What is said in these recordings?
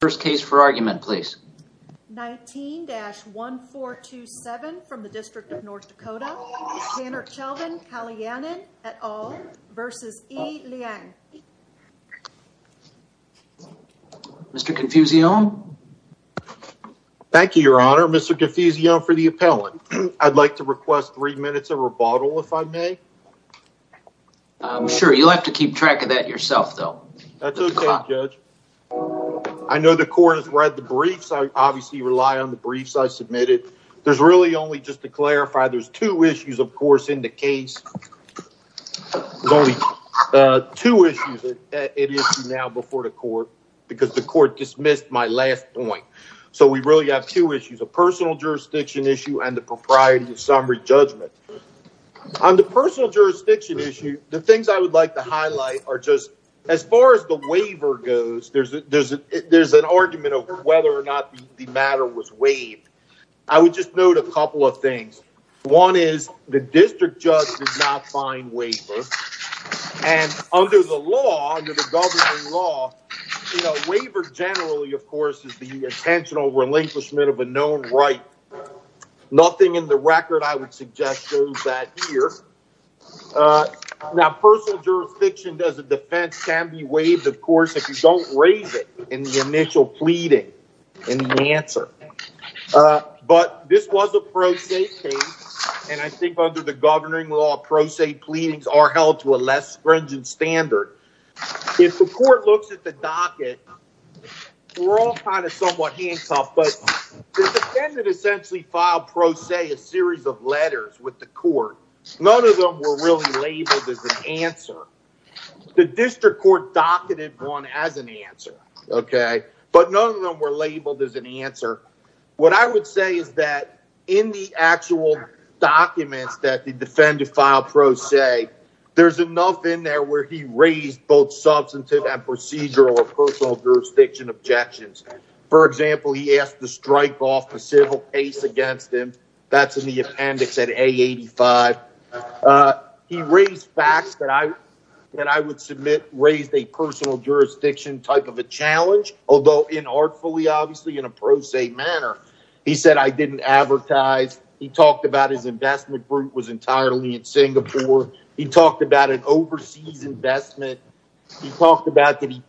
First case for argument please. 19-1427 from the District of North Dakota. Danircelvan Kaliannan et al. v. Ee Liang. Mr. Confusio? Thank you, your honor. Mr. Confusio for the appellant. I'd like to request three minutes of rebuttal, if I may. Sure, you'll have to keep track of that yourself, though. That's okay, judge. I know the court has read the briefs. I obviously rely on the briefs I submitted. There's really only, just to clarify, there's two issues, of course, in the case. There's only two issues now before the court because the court dismissed my last point. So we really have two issues, a personal jurisdiction issue and the propriety of summary judgment. On the personal jurisdiction issue, the things I would like to highlight are just, as far as the waiver goes, there's an argument of whether or not the matter was waived. I would just note a couple of things. One is the district judge did not find waiver. And under the law, under the government law, waiver generally, of course, is the intentional relinquishment of a known right. Nothing in the record I would suggest shows that here. Now, personal jurisdiction as a defense can be waived, of course, if you don't raise it in the initial pleading in the answer. But this was a pro se case. And I think under the governing law, pro se pleadings are held to a less stringent standard. If the court looks at the docket, we're all kind of somewhat handcuffed. But the defendant essentially filed pro se a series of letters with the court. None of them were really labeled as an answer. The district court docketed one as an answer. OK, but none of them were labeled as an answer. What I would say is that in the actual documents that the defendant filed pro se, there's enough in there where he raised both substantive and procedural or the strike off a civil case against him. That's in the appendix at 85. He raised facts that I that I would submit raised a personal jurisdiction type of a challenge, although in artfully, obviously, in a pro se manner. He said I didn't advertise. He talked about his investment group was entirely in Singapore. He talked about an overseas investment. He talked about that he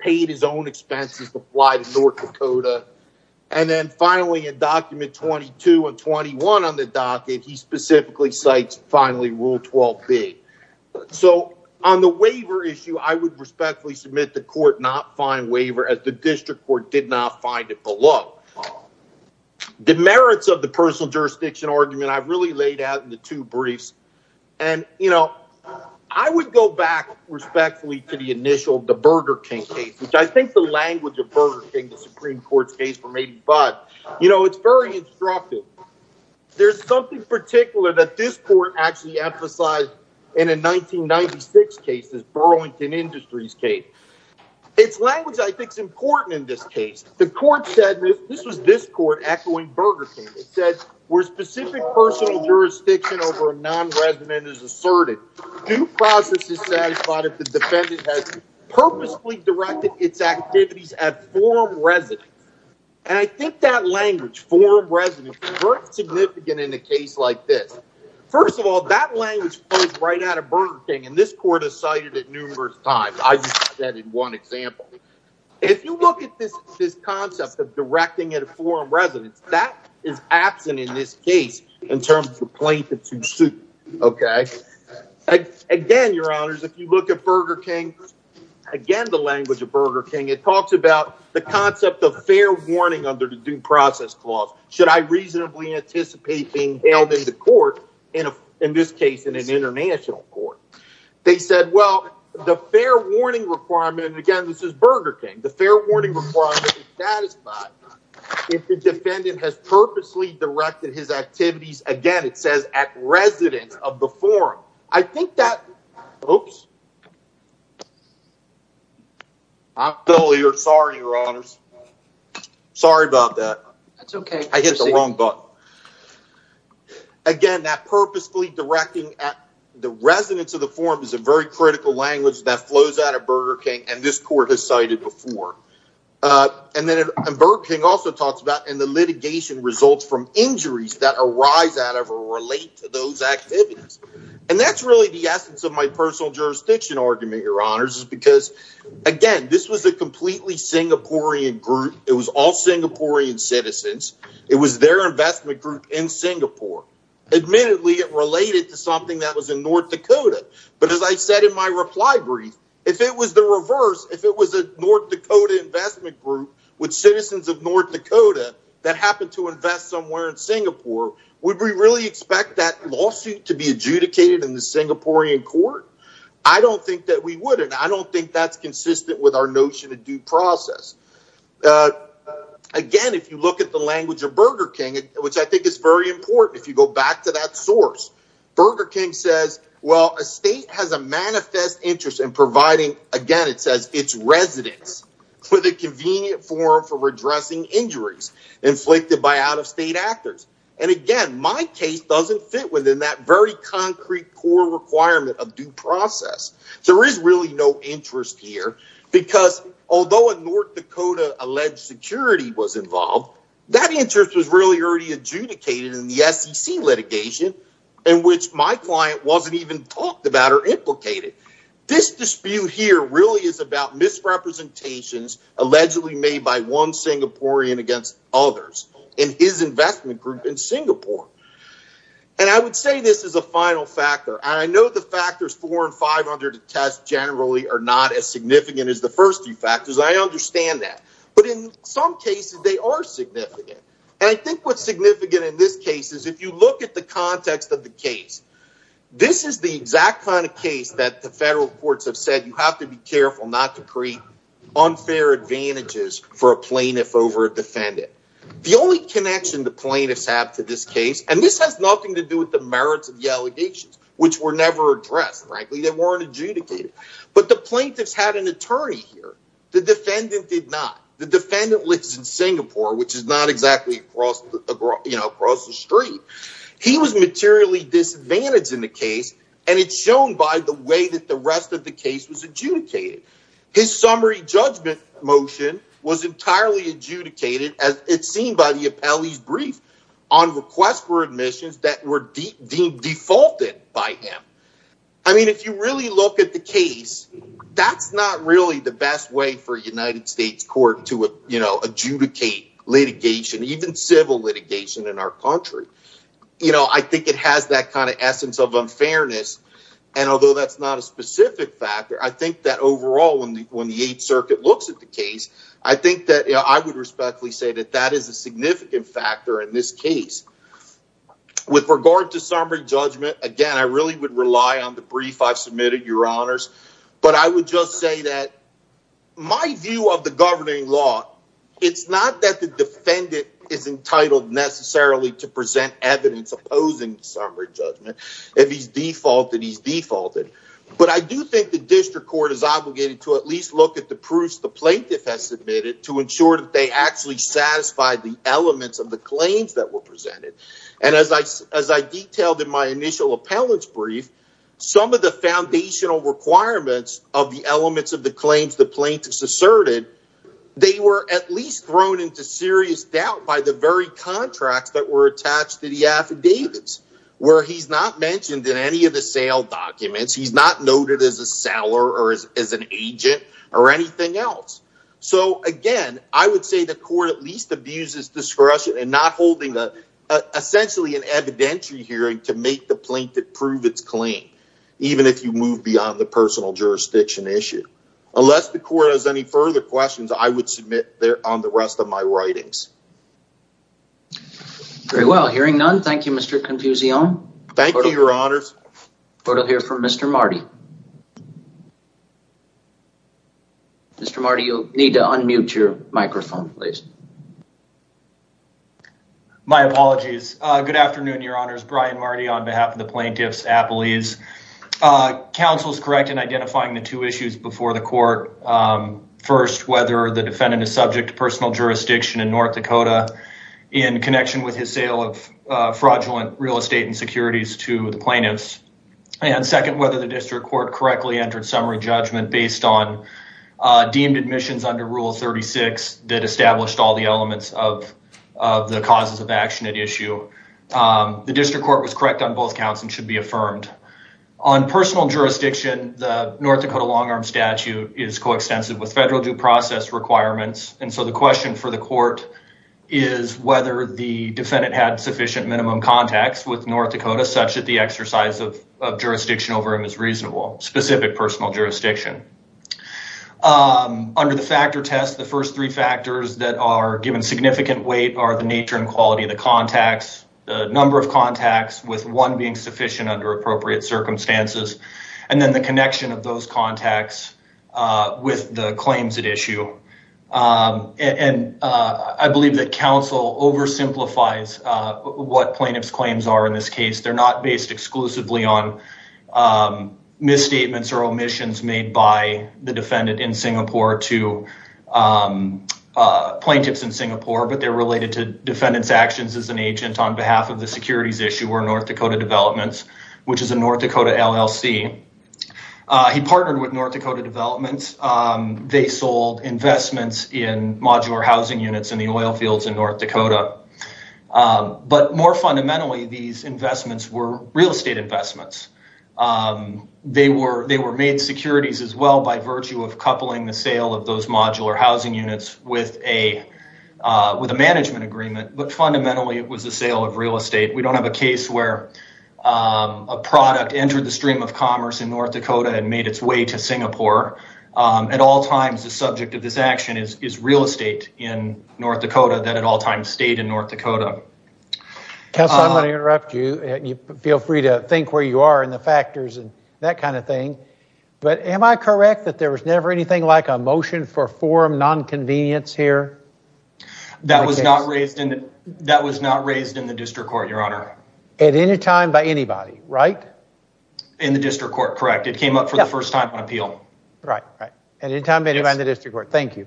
finally in document 22 and 21 on the docket, he specifically cites finally rule 12B. So on the waiver issue, I would respectfully submit the court not find waiver as the district court did not find it below. The merits of the personal jurisdiction argument I've really laid out in the two briefs. And, you know, I would go back respectfully to the initial the Burger King case, which I think the language of Burger King, the Supreme Court's case for me. But, you know, it's very instructive. There's something particular that this court actually emphasized in a 1996 case is Burlington Industries case. It's language, I think, is important in this case. The court said this was this court echoing Burger King. It said where specific personal jurisdiction over non-resident is asserted due process is satisfied if the defendant has purposefully directed its activities at forum residence. And I think that language for residence is significant in a case like this. First of all, that language comes right out of Burger King. And this court has cited it numerous times. I said in one example, if you look at this, this concept of directing at a forum residence, that is absent in this case in terms of plaintiff to suit. OK, again, your honors, if you look at Burger King again, the language of Burger King, it talks about the concept of fair warning under the due process clause. Should I reasonably anticipate being held in the court? And in this case, in an international court, they said, well, the fair warning requirement again, this is Burger King. The fair warning requirement is satisfied if the defendant has purposely directed his activities. Again, it says at residence of the forum. I think that. Oops. I'm sorry, your honors. Sorry about that. That's OK. I get the wrong book. Again, that purposely directing at the residence of the forum is a very critical language that flows out of Burger King. And this court has cited before. And then Burger King also talks about in the litigation results from injuries that arise out of or relate to those activities. And that's really the essence of my personal jurisdiction argument, your honors, is because, again, this was a completely Singaporean group. It was all Singaporean citizens. It was their investment group in North Dakota. But as I said in my reply brief, if it was the reverse, if it was a North Dakota investment group with citizens of North Dakota that happened to invest somewhere in Singapore, would we really expect that lawsuit to be adjudicated in the Singaporean court? I don't think that we would. And I don't think that's consistent with our notion of due process. Again, if you look at the language of Burger King, which I think is very important, if you go back to that source, Burger King says, well, a state has a manifest interest in providing, again, it says its residents with a convenient forum for redressing injuries inflicted by out-of-state actors. And again, my case doesn't fit within that very concrete core requirement of due process. There is really no interest here because although a North Dakota alleged security was involved, that interest was really already adjudicated in the SEC litigation, in which my client wasn't even talked about or implicated. This dispute here really is about misrepresentations allegedly made by one Singaporean against others in his investment group in Singapore. And I would say this is a final factor. And I know the factors four and five under the test generally are not as significant as the first few factors. I understand that. But in some cases, they are significant. And I think what's significant in this case is if you look at the context of the case, this is the exact kind of case that the federal courts have said, you have to be careful not to create unfair advantages for a plaintiff over a defendant. The only connection the plaintiffs have to this case, and this has nothing to do with the merits of the allegations, which were adjudicated. But the plaintiffs had an attorney here. The defendant did not. The defendant lives in Singapore, which is not exactly across the street. He was materially disadvantaged in the case. And it's shown by the way that the rest of the case was adjudicated. His summary judgment motion was entirely adjudicated, as it seemed by the appellee's brief on request for adjudication. So when you look at the case, that's not really the best way for a United States court to adjudicate litigation, even civil litigation in our country. I think it has that kind of essence of unfairness. And although that's not a specific factor, I think that overall, when the Eighth Circuit looks at the case, I think that I would respectfully say that that is a significant factor in this But I would just say that my view of the governing law, it's not that the defendant is entitled necessarily to present evidence opposing summary judgment. If he's defaulted, he's defaulted. But I do think the district court is obligated to at least look at the proofs the plaintiff has submitted to ensure that they actually satisfy the elements of the claims that were presented. And as I as I detailed in my requirements of the elements of the claims the plaintiffs asserted, they were at least thrown into serious doubt by the very contracts that were attached to the affidavits, where he's not mentioned in any of the sale documents. He's not noted as a seller or as an agent or anything else. So again, I would say the court at least abuses discretion and not holding the essentially an evidentiary hearing to make the plaintiff prove its claim, even if you move beyond the personal jurisdiction issue. Unless the court has any further questions, I would submit there on the rest of my writings. Very well, hearing none. Thank you, Mr. Confucione. Thank you, Your Honors. We'll hear from Mr. Marty. Mr. Marty, you'll need to unmute your microphone, please. My apologies. Good afternoon, Your Honors. Brian Marty on behalf of the plaintiffs, Appalese. Council's correct in identifying the two issues before the court. First, whether the defendant is subject to personal jurisdiction in North Dakota in connection with his sale of fraudulent real estate and securities to the plaintiffs. And second, whether the district court correctly entered summary judgment based on deemed admissions under Rule 36 that established all the elements of the causes of action at issue. The district court was correct on both counts and should be affirmed. On personal jurisdiction, the North Dakota long arm statute is coextensive with federal due process requirements. And so the question for the court is whether the defendant had sufficient minimum contacts with North Dakota such that the exercise of jurisdiction over him is reasonable, specific personal jurisdiction. Under the factor test, the first three factors that are given significant weight are the nature and quality of the contacts, the number of contacts with one being sufficient under appropriate circumstances, and then the connection of those contacts with the claims at issue. And I believe that counsel oversimplifies what plaintiff's claims are in this case. They're not based exclusively on misstatements or omissions made by the defendant in Singapore to plaintiffs in Singapore, but they're related to defendant's actions as an agent on behalf of the securities issue or North Dakota Developments, which is a North Dakota LLC. He partnered with North Dakota Developments. They sold investments in modular housing units in the oil fields in North Dakota. But more fundamentally, these investments were real estate investments. They were made securities as well by virtue of coupling the sale of those modular housing units with a management agreement. But fundamentally, it was a sale of real estate. We don't have a case where a product entered the stream of commerce in North Dakota and made its way to Singapore. At all times, the subject of this action is real estate in North Dakota that at all times stayed in North Dakota. Counsel, I'm going to interrupt you. Feel free to think where you are in the factors and that kind of thing. But am I correct that there was never anything like a motion for forum nonconvenience here? That was not raised in the district court, your honor. At any time by anybody, right? In the district court, correct. It came up for the first time on appeal. At any time by anybody in the district court, thank you.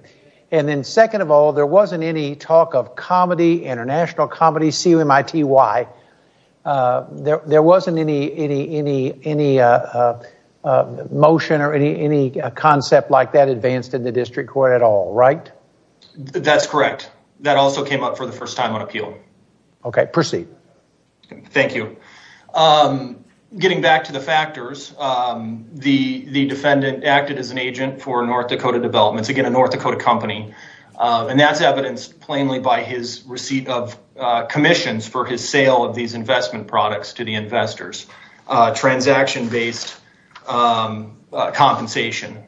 And then second of all, there wasn't any talk of comedy, international comedy, C-U-M-I-T-Y. There wasn't any motion or any concept like that advanced in the district court at all, right? That's correct. That also came up for the first time on appeal. Okay, proceed. Thank you. Getting back to the factors, the defendant acted as an agent for North Dakota Developments, again a North Dakota company. And that's evidenced plainly by his receipt of commissions for his sale of these investment products to the investors. Transaction based compensation.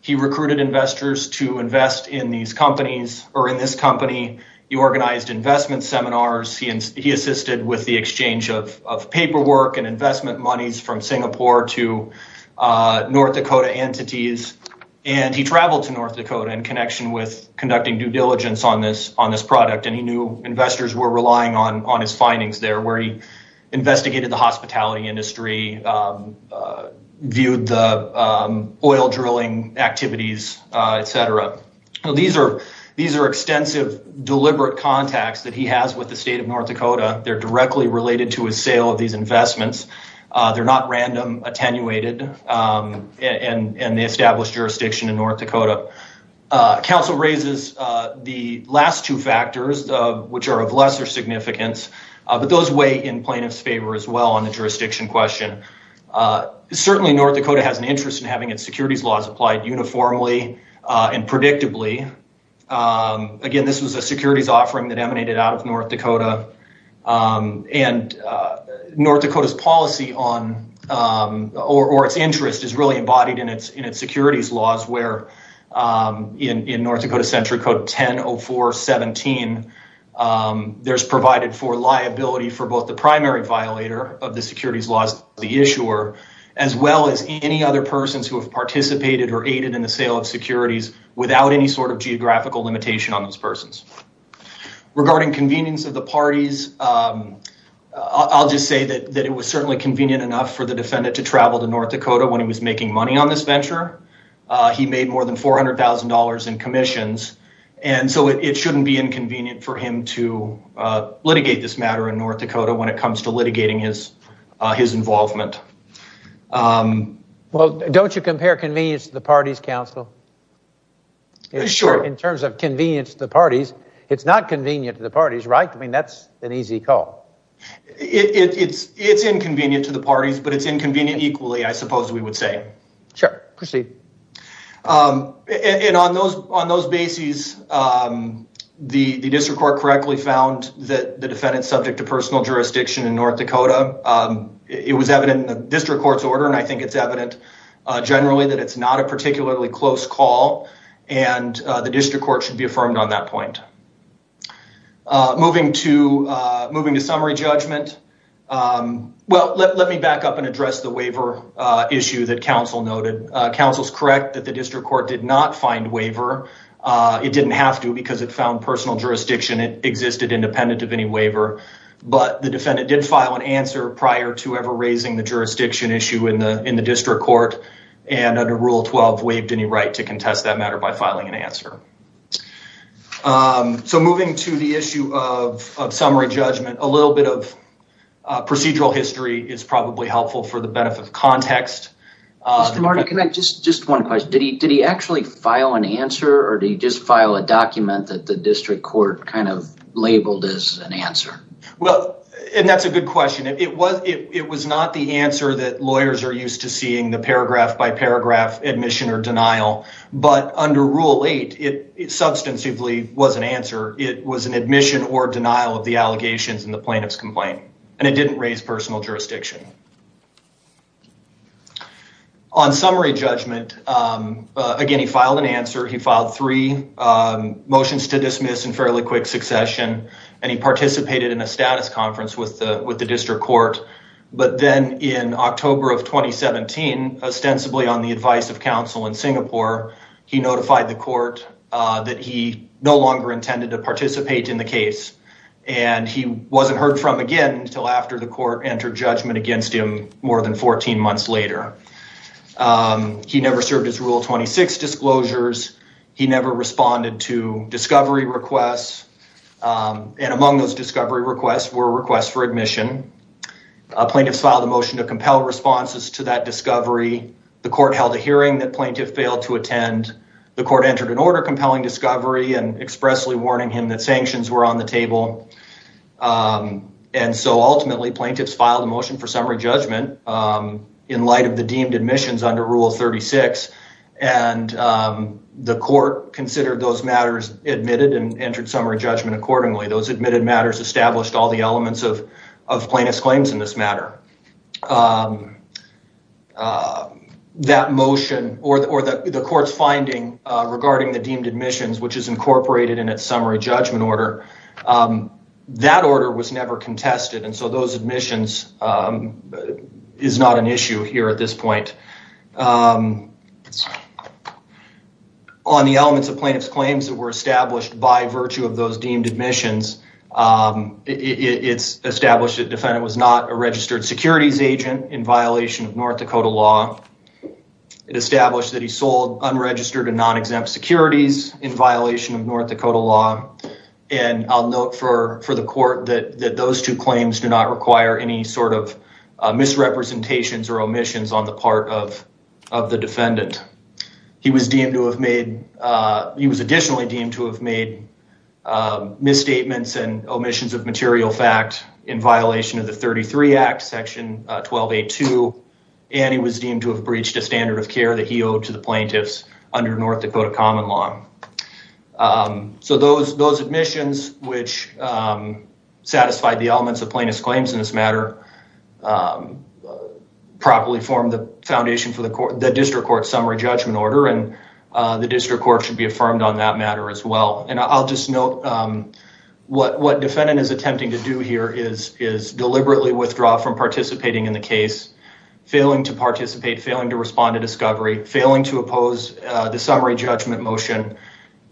He recruited investors to invest in these companies or in this company. He organized investment seminars. He assisted with the exchange of paperwork and investment monies from Singapore to North Dakota entities. And he traveled to North Dakota in connection with conducting due diligence on this product. And he knew investors were relying on his findings there where he investigated the hospitality industry, viewed the oil drilling activities, etc. These are extensive, deliberate contacts that he has with the state of North Dakota. They're directly related to his sale of these investments. They're not random attenuated in the established jurisdiction in North Dakota. Counsel raises the last two factors, which are of lesser significance. But those weigh in plaintiff's favor as well on the jurisdiction question. Certainly, North Dakota has an interest in having its securities laws applied uniformly and predictably. Again, this was a securities offering that emanated out of North Dakota. And North Dakota's policy or its interest is really embodied in its securities laws. In North Dakota Century Code 10-04-17, there's provided for liability for both the primary violator of the securities laws, the issuer, as well as any other persons who have participated or aided in the sale of securities without any sort of geographical limitation on those persons. Regarding convenience of the parties, I'll just say that it was certainly convenient enough for the defendant to travel to North Dakota when he was making money on this venture. He made more than $400,000 in commissions. And so it shouldn't be inconvenient for him to litigate this matter in North Dakota when it comes to litigating his involvement. Well, don't you compare convenience to the parties, counsel? Sure. In terms of convenience to the parties, it's not convenient to the parties, right? I mean, that's an easy call. It's inconvenient to the parties, but it's inconvenient equally, I suppose we would say. And on those bases, the district court correctly found that the defendant's subject to personal jurisdiction in North Dakota. It was evident in the district court's order, and I think it's evident generally that it's not a particularly close call, and the district court should be affirmed on that point. Moving to summary judgment. Well, let me back up and address the waiver issue that counsel noted. Counsel's correct that the district court did not find waiver. It didn't have to because it found personal jurisdiction existed independent of any waiver. But the defendant did file an answer prior to ever raising the jurisdiction issue in the district court, and under Rule 12 waived any right to contest that matter by filing an answer. So moving to the issue of summary judgment, a little bit of procedural history is probably helpful for the benefit of context. Marty, can I just one question? Did he actually file an answer, or did he just file a document that the district court kind of labeled as an answer? Well, and that's a good question. It was not the answer that lawyers are used to seeing, the paragraph-by-paragraph admission or denial. But under Rule 8, it substantively was an answer. It was an admission or denial of the allegations in the plaintiff's complaint, and it didn't raise personal jurisdiction. On summary judgment, again, he filed an answer. He filed three motions to dismiss in fairly quick succession. And he participated in a status conference with the district court. But then in October of 2017, ostensibly on the advice of counsel in Singapore, he notified the court that he no longer intended to participate in the case. And he wasn't heard from again until after the court entered judgment against him more than 14 months later. He never served his Rule 26 disclosures. He never responded to discovery requests. And among those discovery requests were requests for admission. Plaintiffs filed a motion to compel responses to that discovery. The court held a hearing that plaintiff failed to attend. The court entered an order compelling discovery and expressly warning him that sanctions were on the table. And so ultimately, plaintiffs filed a motion for summary judgment in light of the deemed admissions under Rule 36. And the court considered those matters admitted and entered summary judgment accordingly. Those admitted matters established all the elements of plaintiff's claims in this matter. That motion or the court's finding regarding the deemed admissions, which is incorporated in its summary judgment order, that order was never contested. And so those admissions is not an issue here at this point. On the elements of plaintiff's claims that were established by virtue of those deemed admissions, it's established that the defendant was not a registered securities agent in violation of North Dakota law. It established that he sold unregistered and non-exempt securities in violation of North Dakota law. And I'll note for the court that those two claims do not require any sort of misrepresentations or omissions on the part of the defendant. He was deemed to have made, he was additionally deemed to have made misstatements and omissions of material fact in violation of the 33 Act Section 1282. And he was deemed to have breached a standard of care that he owed to the plaintiffs under North Dakota common law. So those admissions, which satisfied the elements of plaintiff's claims in this matter, properly formed the foundation for the court, the district court summary judgment order, and the district court should be affirmed on that matter as well. And I'll just note what defendant is attempting to do here is deliberately withdraw from participating in the case, failing to participate, failing to respond to discovery, failing to oppose the summary judgment motion,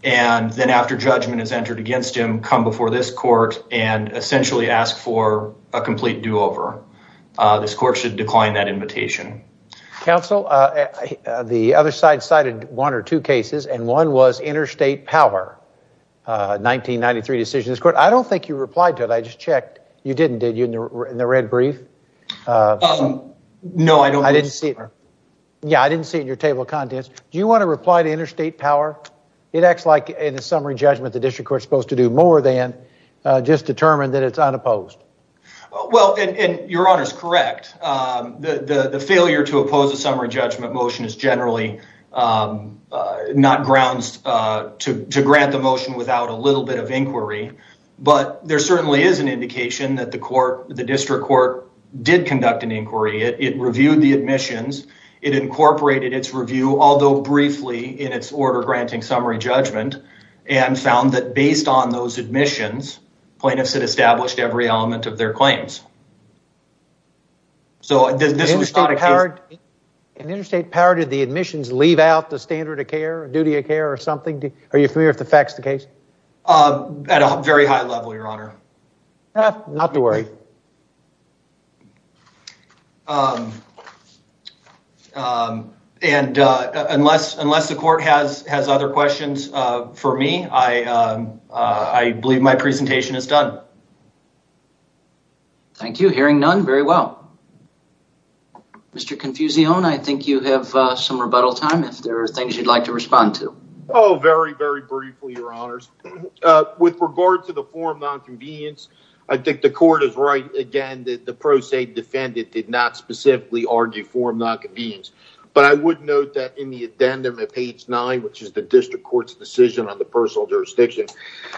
and then after judgment is entered against him, come before this court and essentially ask for a complete do-over. This court should decline that invitation. Counsel, the other side cited one or two cases, and one was interstate power, 1993 decision. I don't think you replied to it. I just checked. You didn't, did you, in the red brief? No, I didn't see it. Yeah, I didn't see it in your table of contents. Do you want to reply to interstate power? It acts like in the summary judgment the district court is supposed to do more than just determine that it's unopposed. Well, and your honor is correct. The failure to oppose a summary judgment motion is generally not grounds to grant the motion without a little bit of inquiry. But there certainly is an indication that the court, the district court, did conduct an inquiry. It reviewed the admissions. It incorporated its review, although briefly, in its order granting summary judgment, and found that based on those admissions, plaintiffs had established every element of their claims. So this was not a case... In interstate power, did the admissions leave out the standard of care, duty of care, or something? Are you familiar with the facts of the case? At a very high level, your honor. Not to worry. And unless the court has other questions for me, I believe my presentation is done. Thank you. Hearing none, very well. Mr. Confusione, I think you have some rebuttal time if there are things you'd like to respond to. Oh, very, very briefly, your honors. With regard to the form of non-convenience, I think the court is right, again, that the pro se defendant did not specifically argue form of non-convenience. But I would note that in the addendum at page 9, which is the district court's decision on the personal jurisdiction,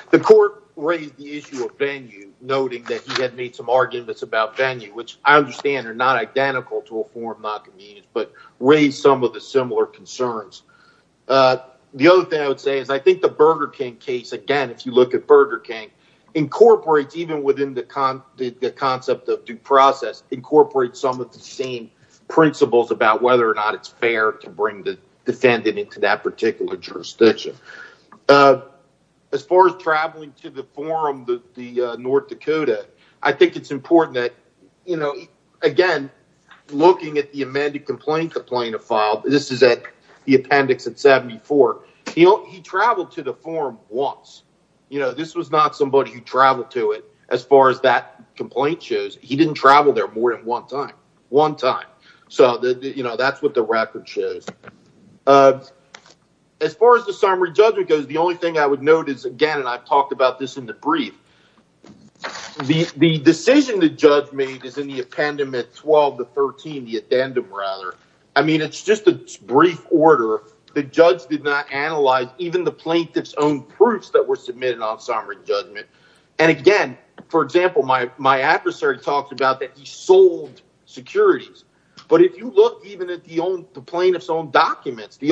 the court raised the issue of venue, noting that he had made some arguments about venue, which I understand are not identical to a form of non-convenience, but raised some of the similar concerns. The other thing I would say is I think the Burger King case, again, if you look at Burger King, incorporates, even within the concept of due process, incorporates some of the same principles about whether or not it's fair to bring the defendant into that particular jurisdiction. As far as traveling to the forum, the North Dakota, I think it's important that, you know, again, looking at the amended complaint complaint file, this is at the appendix at 74, he traveled to the forum once. You know, this was not somebody who traveled to it, as far as that complaint shows. He didn't travel there more than one time. One time. So, you know, that's what the record shows. As far as the summary judgment goes, the only thing I would note is, again, and I've talked about this in the brief, the decision the judge made is in the appendix 12 to 13, the addendum, rather. I mean, it's just a brief order. The judge did not analyze even the plaintiff's own proofs that were submitted on summary judgment. And again, for example, my adversary talked about that he sold securities. But if you look even at the plaintiff's own documents, the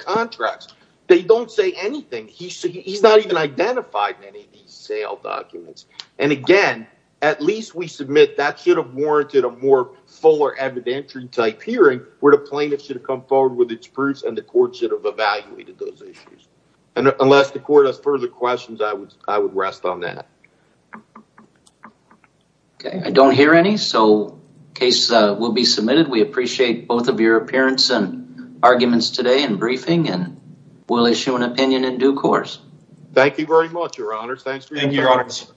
contracts, they don't say anything. He's not even identified in any of these sale documents. And again, at least we submit that should have warranted a more fuller evidentiary type hearing where the plaintiff should have come forward with its proofs and the court should have evaluated those issues. And unless the court has further questions, I would rest on that. I don't hear any, so cases will be submitted. We appreciate both of your appearance and arguments today and briefing. And we'll issue an opinion in due course. Thank you very much, Your Honors. Thank you, Your Honors.